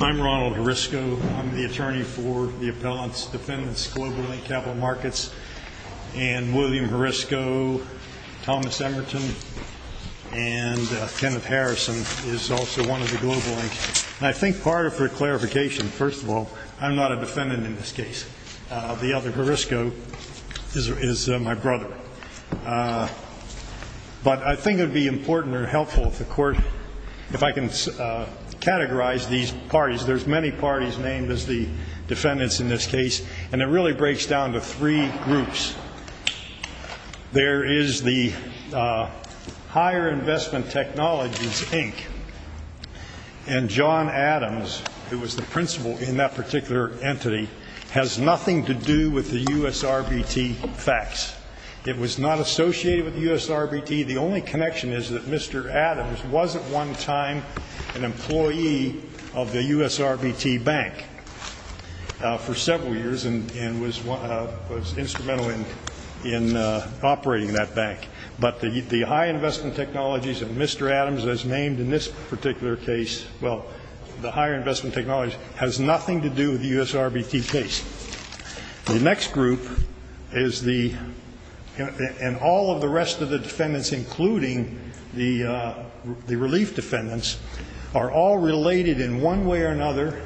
I'm Ronald Horisco. I'm the attorney for the appellant's defendants, Global Inc. Capital Markets, and William Horisco, Thomas Emerton, and Kenneth Harrison is also one of the Global Inc. I think part of the clarification, first of all, I'm not a defendant in this case. The other, Horisco, is my brother. But I think it If I can categorize these parties, there's many parties named as the defendants in this case, and it really breaks down to three groups. There is the Higher Investment Technologies, Inc., and John Adams, who was the principal in that particular entity, has nothing to do with the USRBT facts. It was not associated with the USRBT. The only connection is that Mr. Adams wasn't one time an employee of the USRBT bank for several years and was instrumental in operating that bank. But the High Investment Technologies that Mr. Adams has named in this particular case, well, the Higher Investment Technologies, has nothing to do with the USRBT case. The next group is the, and all of the rest of the defendants, including the relief defendants, are all related in one way or another,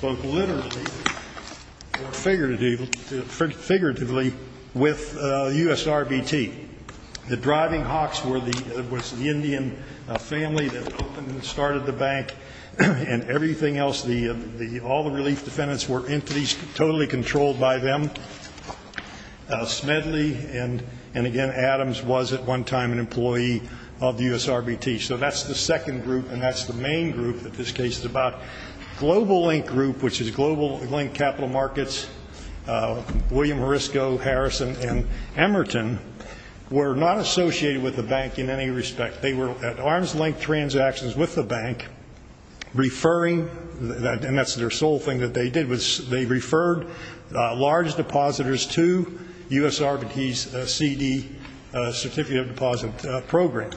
both literally or figuratively, with USRBT. The Driving Hawks was the Indian family that opened and started the bank, and everything else, all the relief defendants were entities totally controlled by them. Smedley, and again Adams, was at one time an employee of the USRBT. So that's the second group, and that's the main group that this case is about. Global Link Group, which is Global Link Capital Markets, William Marisco, Harrison, and Emerton, were not associated with the bank in any respect. They were at arm's length transactions with the bank, referring, and that's their sole thing that they did, was they referred large depositors to USRBT's CD, Certificate of Deposit, program.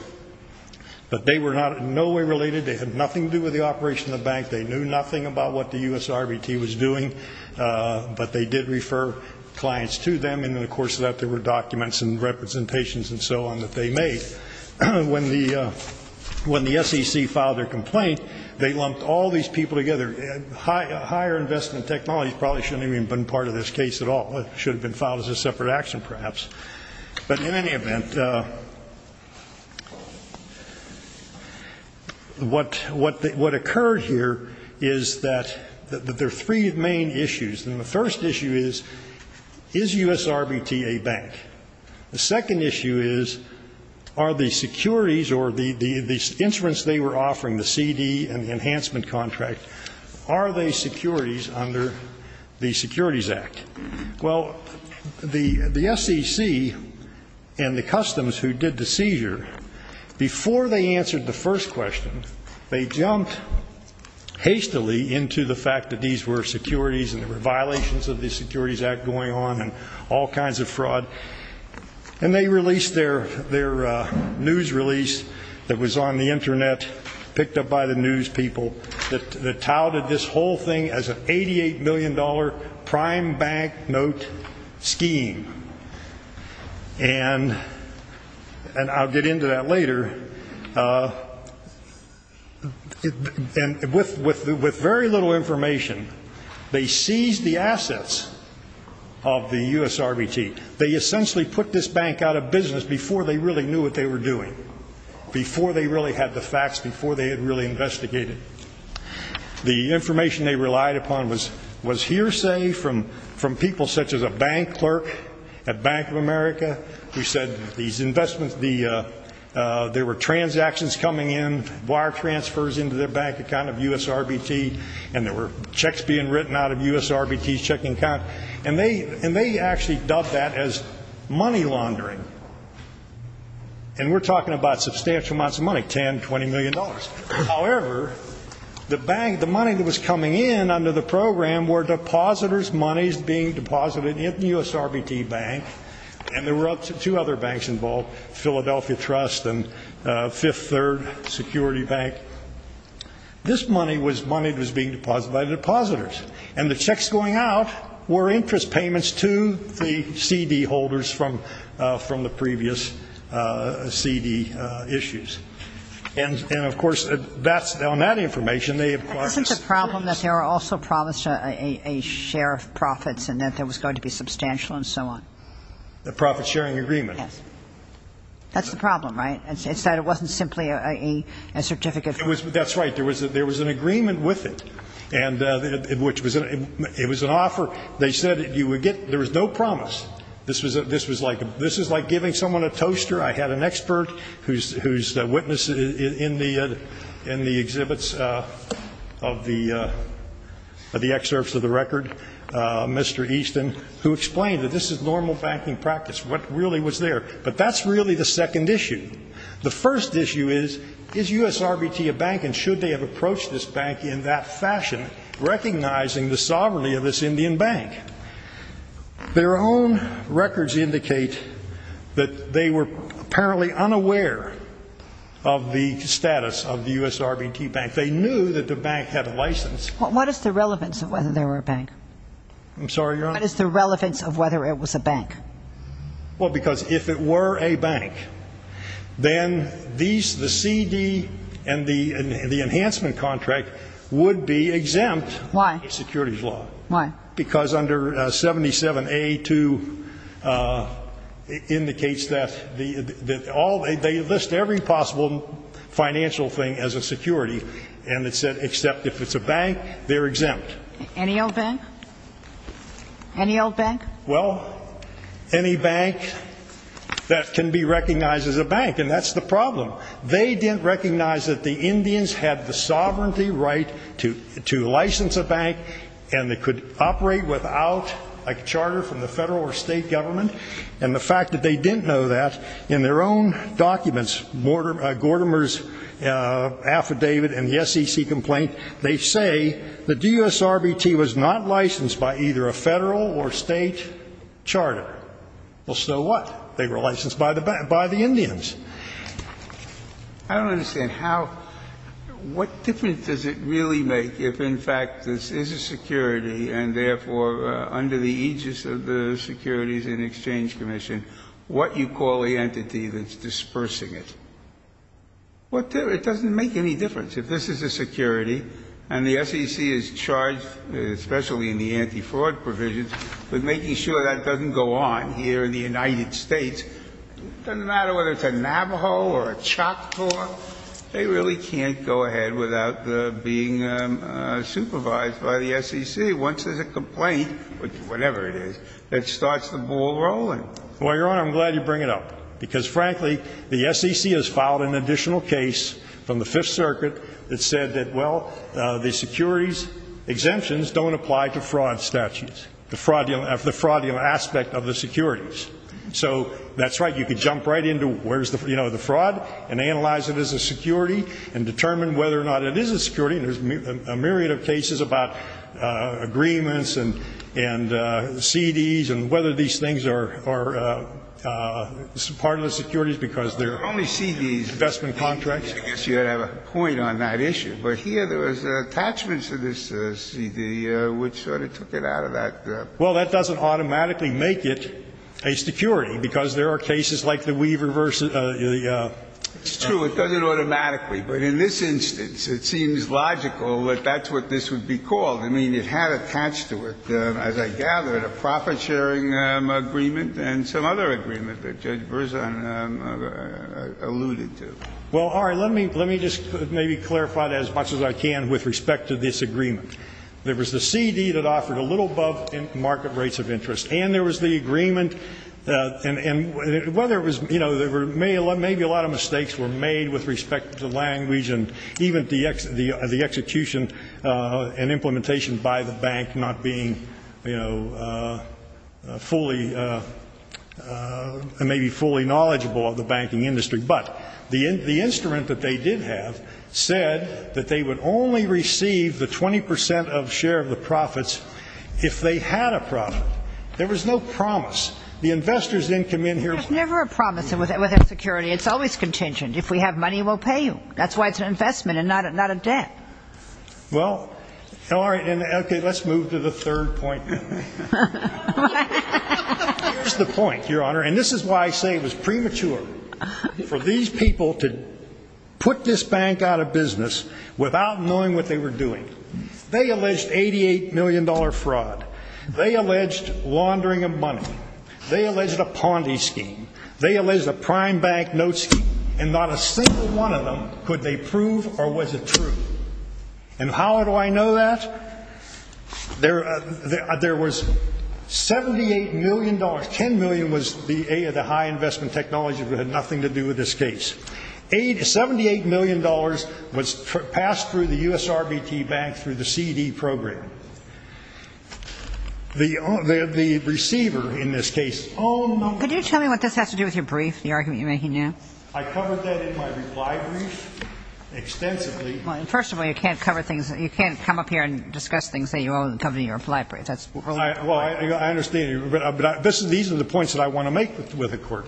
But they were not in no way related, they had nothing to do with the operation of the bank, they knew nothing about what the USRBT was doing, but they did refer clients to them, and then of course that there were documents and representations and so on that they made. When the SEC filed their complaint, they lumped all these people together. Higher investment technologies probably shouldn't even been part of this case at all, it should have been filed as a separate action perhaps. But in any event, what occurred here is that there are three main issues. And the first issue is, is USRBT a bank? The second issue is, are the securities or the insurance they were offering, the CD and the enhancement contract, are they securities under the Securities Act? Well, the SEC and the customs who did the seizure, before they answered the first question, they jumped hastily into the fact that these were securities and there were violations of the Securities Act going on and all kinds of fraud. And they released their news release that was on the internet, picked up by the news people, that touted this whole thing as an 88 million dollar prime bank note scheme. And I'll get into that information. They seized the assets of the USRBT. They essentially put this bank out of business before they really knew what they were doing, before they really had the facts, before they had really investigated. The information they relied upon was hearsay from people such as a bank clerk at Bank of America who said these investments, there were transactions coming in, wire transfers into their bank account of USRBT, and there were checks being written out of USRBT's checking account. And they actually dubbed that as money laundering. And we're talking about substantial amounts of money, 10, 20 million dollars. However, the money that was coming in under the program were depositors' monies being deposited in the USRBT bank. And there were interest payments to the CD holders from the previous CD issues. And, of course, that's, on that information, they acquired the securities. But isn't the problem that there were also promised a share of profits and that there was going to be substantial and so on? A profit-sharing agreement. Yes. That's the problem, right? It's that it wasn't simply a share of profits That's right. There was an agreement with it. It was an offer. They said you would get, there was no promise. This was like giving someone a toaster. I had an expert who's a witness in the exhibits of the excerpts of the record, Mr. Easton, who explained that this is normal banking practice. What really was there? But that's really the second issue. The first issue is, is USRBT a bank and should they have approached this bank in that fashion, recognizing the sovereignty of this Indian bank? Their own records indicate that they were apparently unaware of the status of the USRBT bank. They knew that the bank had a license. What is the relevance of whether there were a bank? I'm sorry, Your Honor? What is the relevance of whether it was a bank? Well, because if it were a bank, then these, the CD and the enhancement contract would be exempt in securities law. Why? Because under 77A2 indicates that all, they list every possible financial thing as a security, and it said except if it's a bank, they're exempt. Any old bank? Any old bank? Well, any bank that can be recognized as a bank, and that's the problem. They didn't recognize that the Indians had the sovereignty right to license a bank and they could operate without a charter from the federal or state government, and the fact that they didn't know that in their own documents, Gortimer's RBT complaint, they say the USRBT was not licensed by either a federal or state charter. Well, so what? They were licensed by the Indians. I don't understand how, what difference does it really make if, in fact, this is a security, and therefore under the aegis of the Securities and Exchange Commission, what you call the entity that's dispersing it? What, it doesn't make any difference. If this is a security, and the SEC is charged, especially in the anti-fraud provisions, with making sure that doesn't go on here in the United States, it doesn't matter whether it's a Navajo or a Choctaw, they really can't go ahead without being supervised by the SEC. Once there's a complaint, whatever it is, it starts the ball rolling. Well, Your Honor, I'm glad you bring it up, because frankly, the SEC has filed an additional case from the Fifth Circuit that said that, well, the securities exemptions don't apply to fraud statutes, the fraudulent aspect of the securities. So, that's right, you can jump right into where's the fraud, and analyze it as a security, and determine whether or not it is a security, and there's a myriad of cases about agreements, and CEDs, and whether these things are part of the investment contracts. I guess you have a point on that issue. But here, there was attachments to this CED, which sort of took it out of that. Well, that doesn't automatically make it a security, because there are cases like the Weaver versus the... It's true, it does it automatically. But in this instance, it seems logical that that's what this would be called. I mean, it had attached to it, as I gather, a profit-sharing agreement, and some other agreement that Judge Verzon alluded to. Well, all right, let me just maybe clarify as much as I can with respect to this agreement. There was the CED that offered a little above market rates of interest, and there was the agreement, and whether it was, you know, maybe a lot of mistakes were made with respect to language, and even the execution and implementation by the bank not being, you know, fully, maybe fully knowledgeable of the banking industry. But the instrument that they did have said that they would only receive the 20 percent of share of the profits if they had a profit. There was no promise. The investors didn't come in here... There's never a promise with our security. It's always contingent. If we have money, we'll pay you. That's why it's an investment and not a debt. Well, all right, and okay, let's move to the third point. Here's the point, Your Honor, and this is why I say it was premature for these people to put this bank out of business without knowing what they were doing. They alleged $88 million fraud. They alleged laundering of money. They alleged a Ponti scheme. They alleged a prime bank note scheme, and not a single one of them could they prove or was it true. And how do I know that? There was $78 million, $10 million was the high investment technology that had nothing to do with this case. $78 million was passed through the USRBT bank through the CD program. The receiver in this case... Could you tell me what this has to do with your brief, the argument you're making now? I covered that in my reply brief extensively. First of all, you can't cover things, you can't come up here and discuss things that you only covered in your reply brief. Well, I understand you, but these are the points that I want to make with the Court.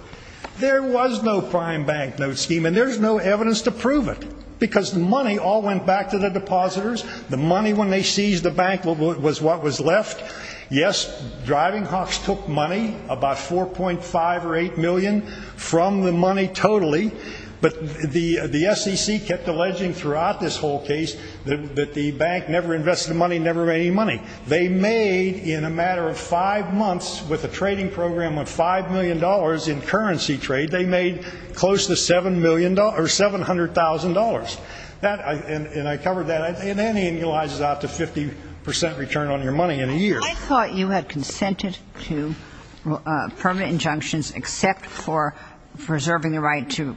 There was no prime bank note scheme and there's no evidence to prove it because the money all went back to the depositors. The money when they seized the bank was what was left. Yes, driving hawks took money, about $4.5 or $8 million from the money totally, but the SEC kept alleging throughout this whole case that the bank never invested the money and never made any money. They made, in a matter of five months, with a trading program of $5 million in currency trade, they made close to $700,000. And I covered that, and then it annualizes out to 50% return on your money in a year. I thought you had consented to permanent injunctions except for preserving the right to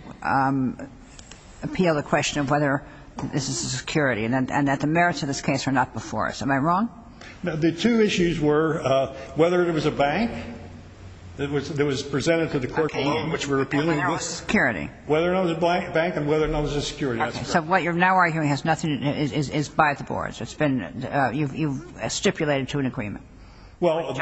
appeal the question of whether this is a security and that the merits of this case are not before us. Am I wrong? No, the two issues were whether it was a bank that was presented to the Court alone, which we're appealing. And whether or not it was a security. Whether or not it was a bank and whether or not it was a security. Okay, so what you're now arguing is nothing, is by the boards. It's been, you've stipulated to an agreement. Well,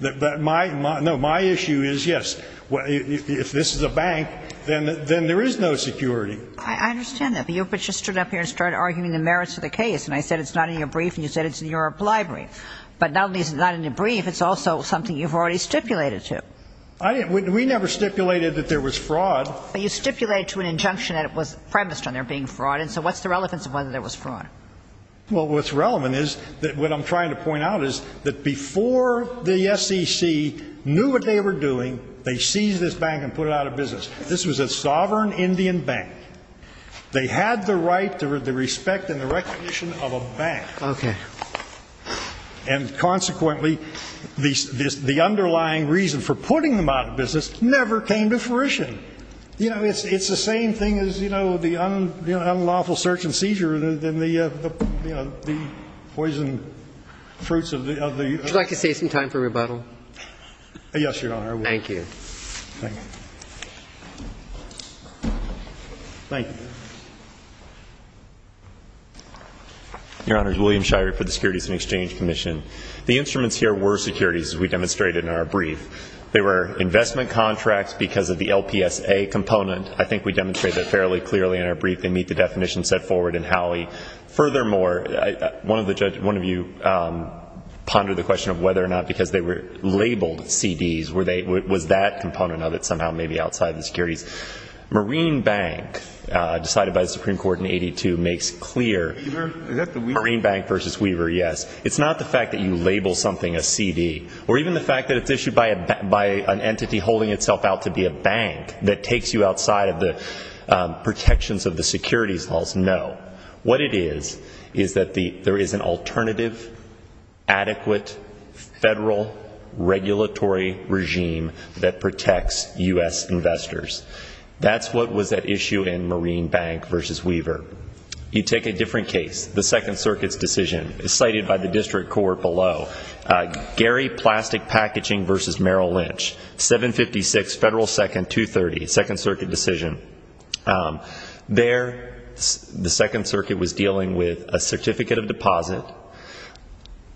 no, my issue is, yes, if this is a bank, then there is no security. I understand that, but you just stood up here and started arguing the merits of the case, and I said it's not in your brief, and you said it's in your reply brief. But not only is it not in your brief, it's also something you've already stipulated to. We never stipulated that there was fraud. But you stipulated to an injunction that it was premised on there being fraud, and so what's the relevance of whether there was fraud? Well, what's relevant is that what I'm trying to point out is that before the SEC knew what they were doing, they seized this bank and put it out of business. This was a sovereign Indian bank. They had the right, the respect and the recognition of a bank. Okay. And consequently, the underlying reason for putting them out of business never came to fruition. You know, it's the same thing as, you know, the unlawful search and seizure and the, you know, the poison fruits of the other. Would you like to save some time for rebuttal? Yes, Your Honor. Thank you. Thank you. Thank you. Your Honor, it's William Shirey for the Securities and Exchange Commission. The instruments here were securities, as we demonstrated in our brief. They were investment contracts because of the LPSA component. I think we demonstrated that fairly clearly in our brief. They meet the definition set forward in Howey. Furthermore, one of you pondered the question of whether or not because they were labeled CDs. Was that component of it somehow maybe outside of the securities? Marine Bank, decided by the Supreme Court in 82, makes clear. Weaver? Marine Bank versus Weaver, yes. It's not the fact that you label something a CD, or even the fact that it's issued by an entity holding itself out to be a bank that takes you securities laws, no. What it is, is that there is an alternative, adequate, federal, regulatory regime that protects U.S. investors. That's what was at issue in Marine Bank versus Weaver. You take a different case, the Second Circuit's decision, cited by the District Court below, Gary Plastic Packaging versus Merrill Lynch, 756 Federal 2nd 230, Second Circuit decision. There, the Second Circuit was dealing with a certificate of deposit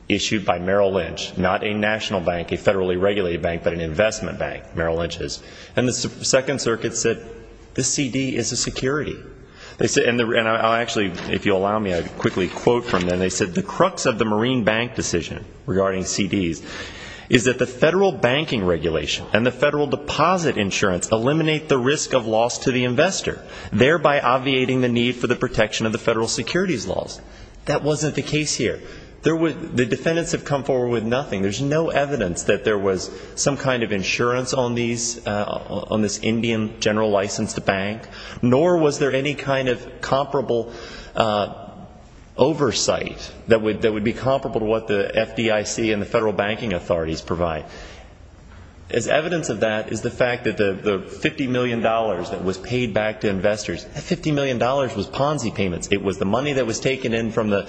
issued by Merrill Lynch, not a national bank, a federally regulated bank, but an investment bank, Merrill Lynch's. The Second Circuit said, this CD is a security. Actually, if you'll allow me, I'll quickly quote from them. They said, the crux of the Marine Bank decision regarding CDs is that the federal banking regulation and the federal deposit insurance eliminate the protection of the investor, thereby obviating the need for the protection of the federal securities laws. That wasn't the case here. The defendants have come forward with nothing. There's no evidence that there was some kind of insurance on these, on this Indian general licensed bank, nor was there any kind of comparable oversight that would be comparable to what the FDIC and the federal banking authorities provide. As evidence of that is the fact that the $50 million that was paid back to investors, that $50 million was Ponzi payments. It was the money that was taken in from the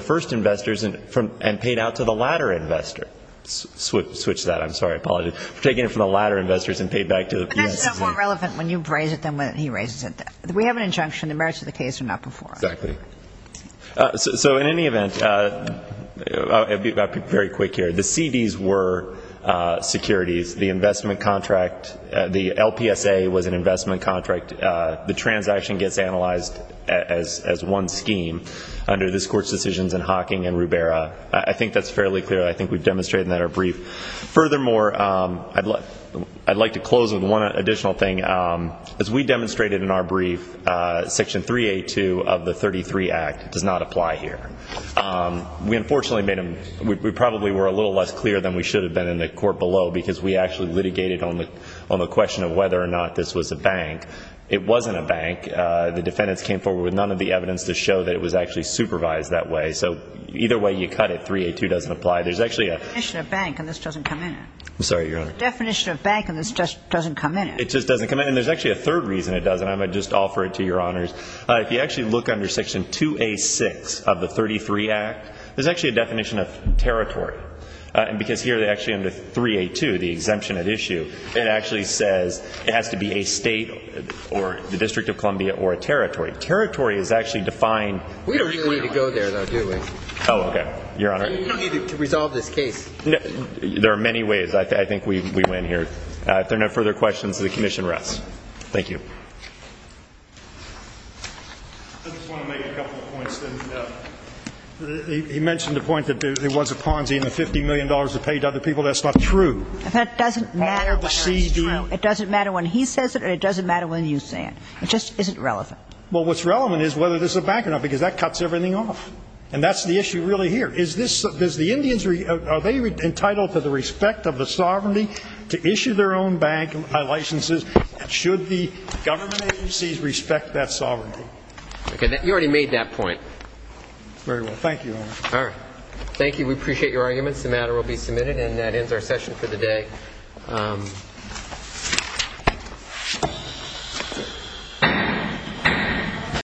first investors and paid out to the latter investor. Switch that. I'm sorry. Apologies. Taken it from the latter investors and paid back to the FDIC. But that's more relevant when you raise it than when he raises it. We have an injunction. The merits of the case are not before us. Exactly. So in any event, I'll be very quick here. The CDs were securities. The investment contract, the LPSA was an investment contract. The transaction gets analyzed as one scheme under this Court's decisions in Hocking and Rubera. I think that's fairly clear. I think we've demonstrated that in our brief. Furthermore, I'd like to close with one additional thing. As we demonstrated in our brief, Section 382 of the 33 Act does not apply here. We probably were a little less clear than we should have been in the court below because we actually litigated on the question of whether or not this was a bank. It wasn't a bank. The defendants came forward with none of the evidence to show that it was actually supervised that way. So either way you cut it, 382 doesn't apply. There's actually a definition of bank, and this doesn't come in. I'm sorry, Your Honor. Definition of bank, and this just doesn't come in. It just doesn't come in. And there's actually a third reason it doesn't. I'm going to just offer it to Your Honors. If you actually look under Section 2A.6 of the 33 Act, there's actually a definition of territory. And because here they actually under 382, the exemption at issue, it actually says it has to be a state or the District of Columbia or a territory. Territory is actually defined. We don't really need to go there, though, do we? Oh, okay. Your Honor. We don't need to resolve this case. There are many ways. I think we win here. If there are no further questions, the commission rests. Thank you. I just want to make a couple of points. He mentioned a point that there was a Ponzi and the $50 million to pay to other people. That's not true. That doesn't matter. It doesn't matter when he says it or it doesn't matter when you say it. It just isn't relevant. Well, what's relevant is whether this is a bank or not, because that cuts everything off. And that's the issue really here. Is this the Indians, are they entitled to the respect of the sovereignty to issue their own bank licenses? And should the government agencies respect that sovereignty? Okay. You already made that point. Very well. Thank you, Your Honor. All right. Thank you. We appreciate your arguments. The matter will be submitted, and that ends our session for the day.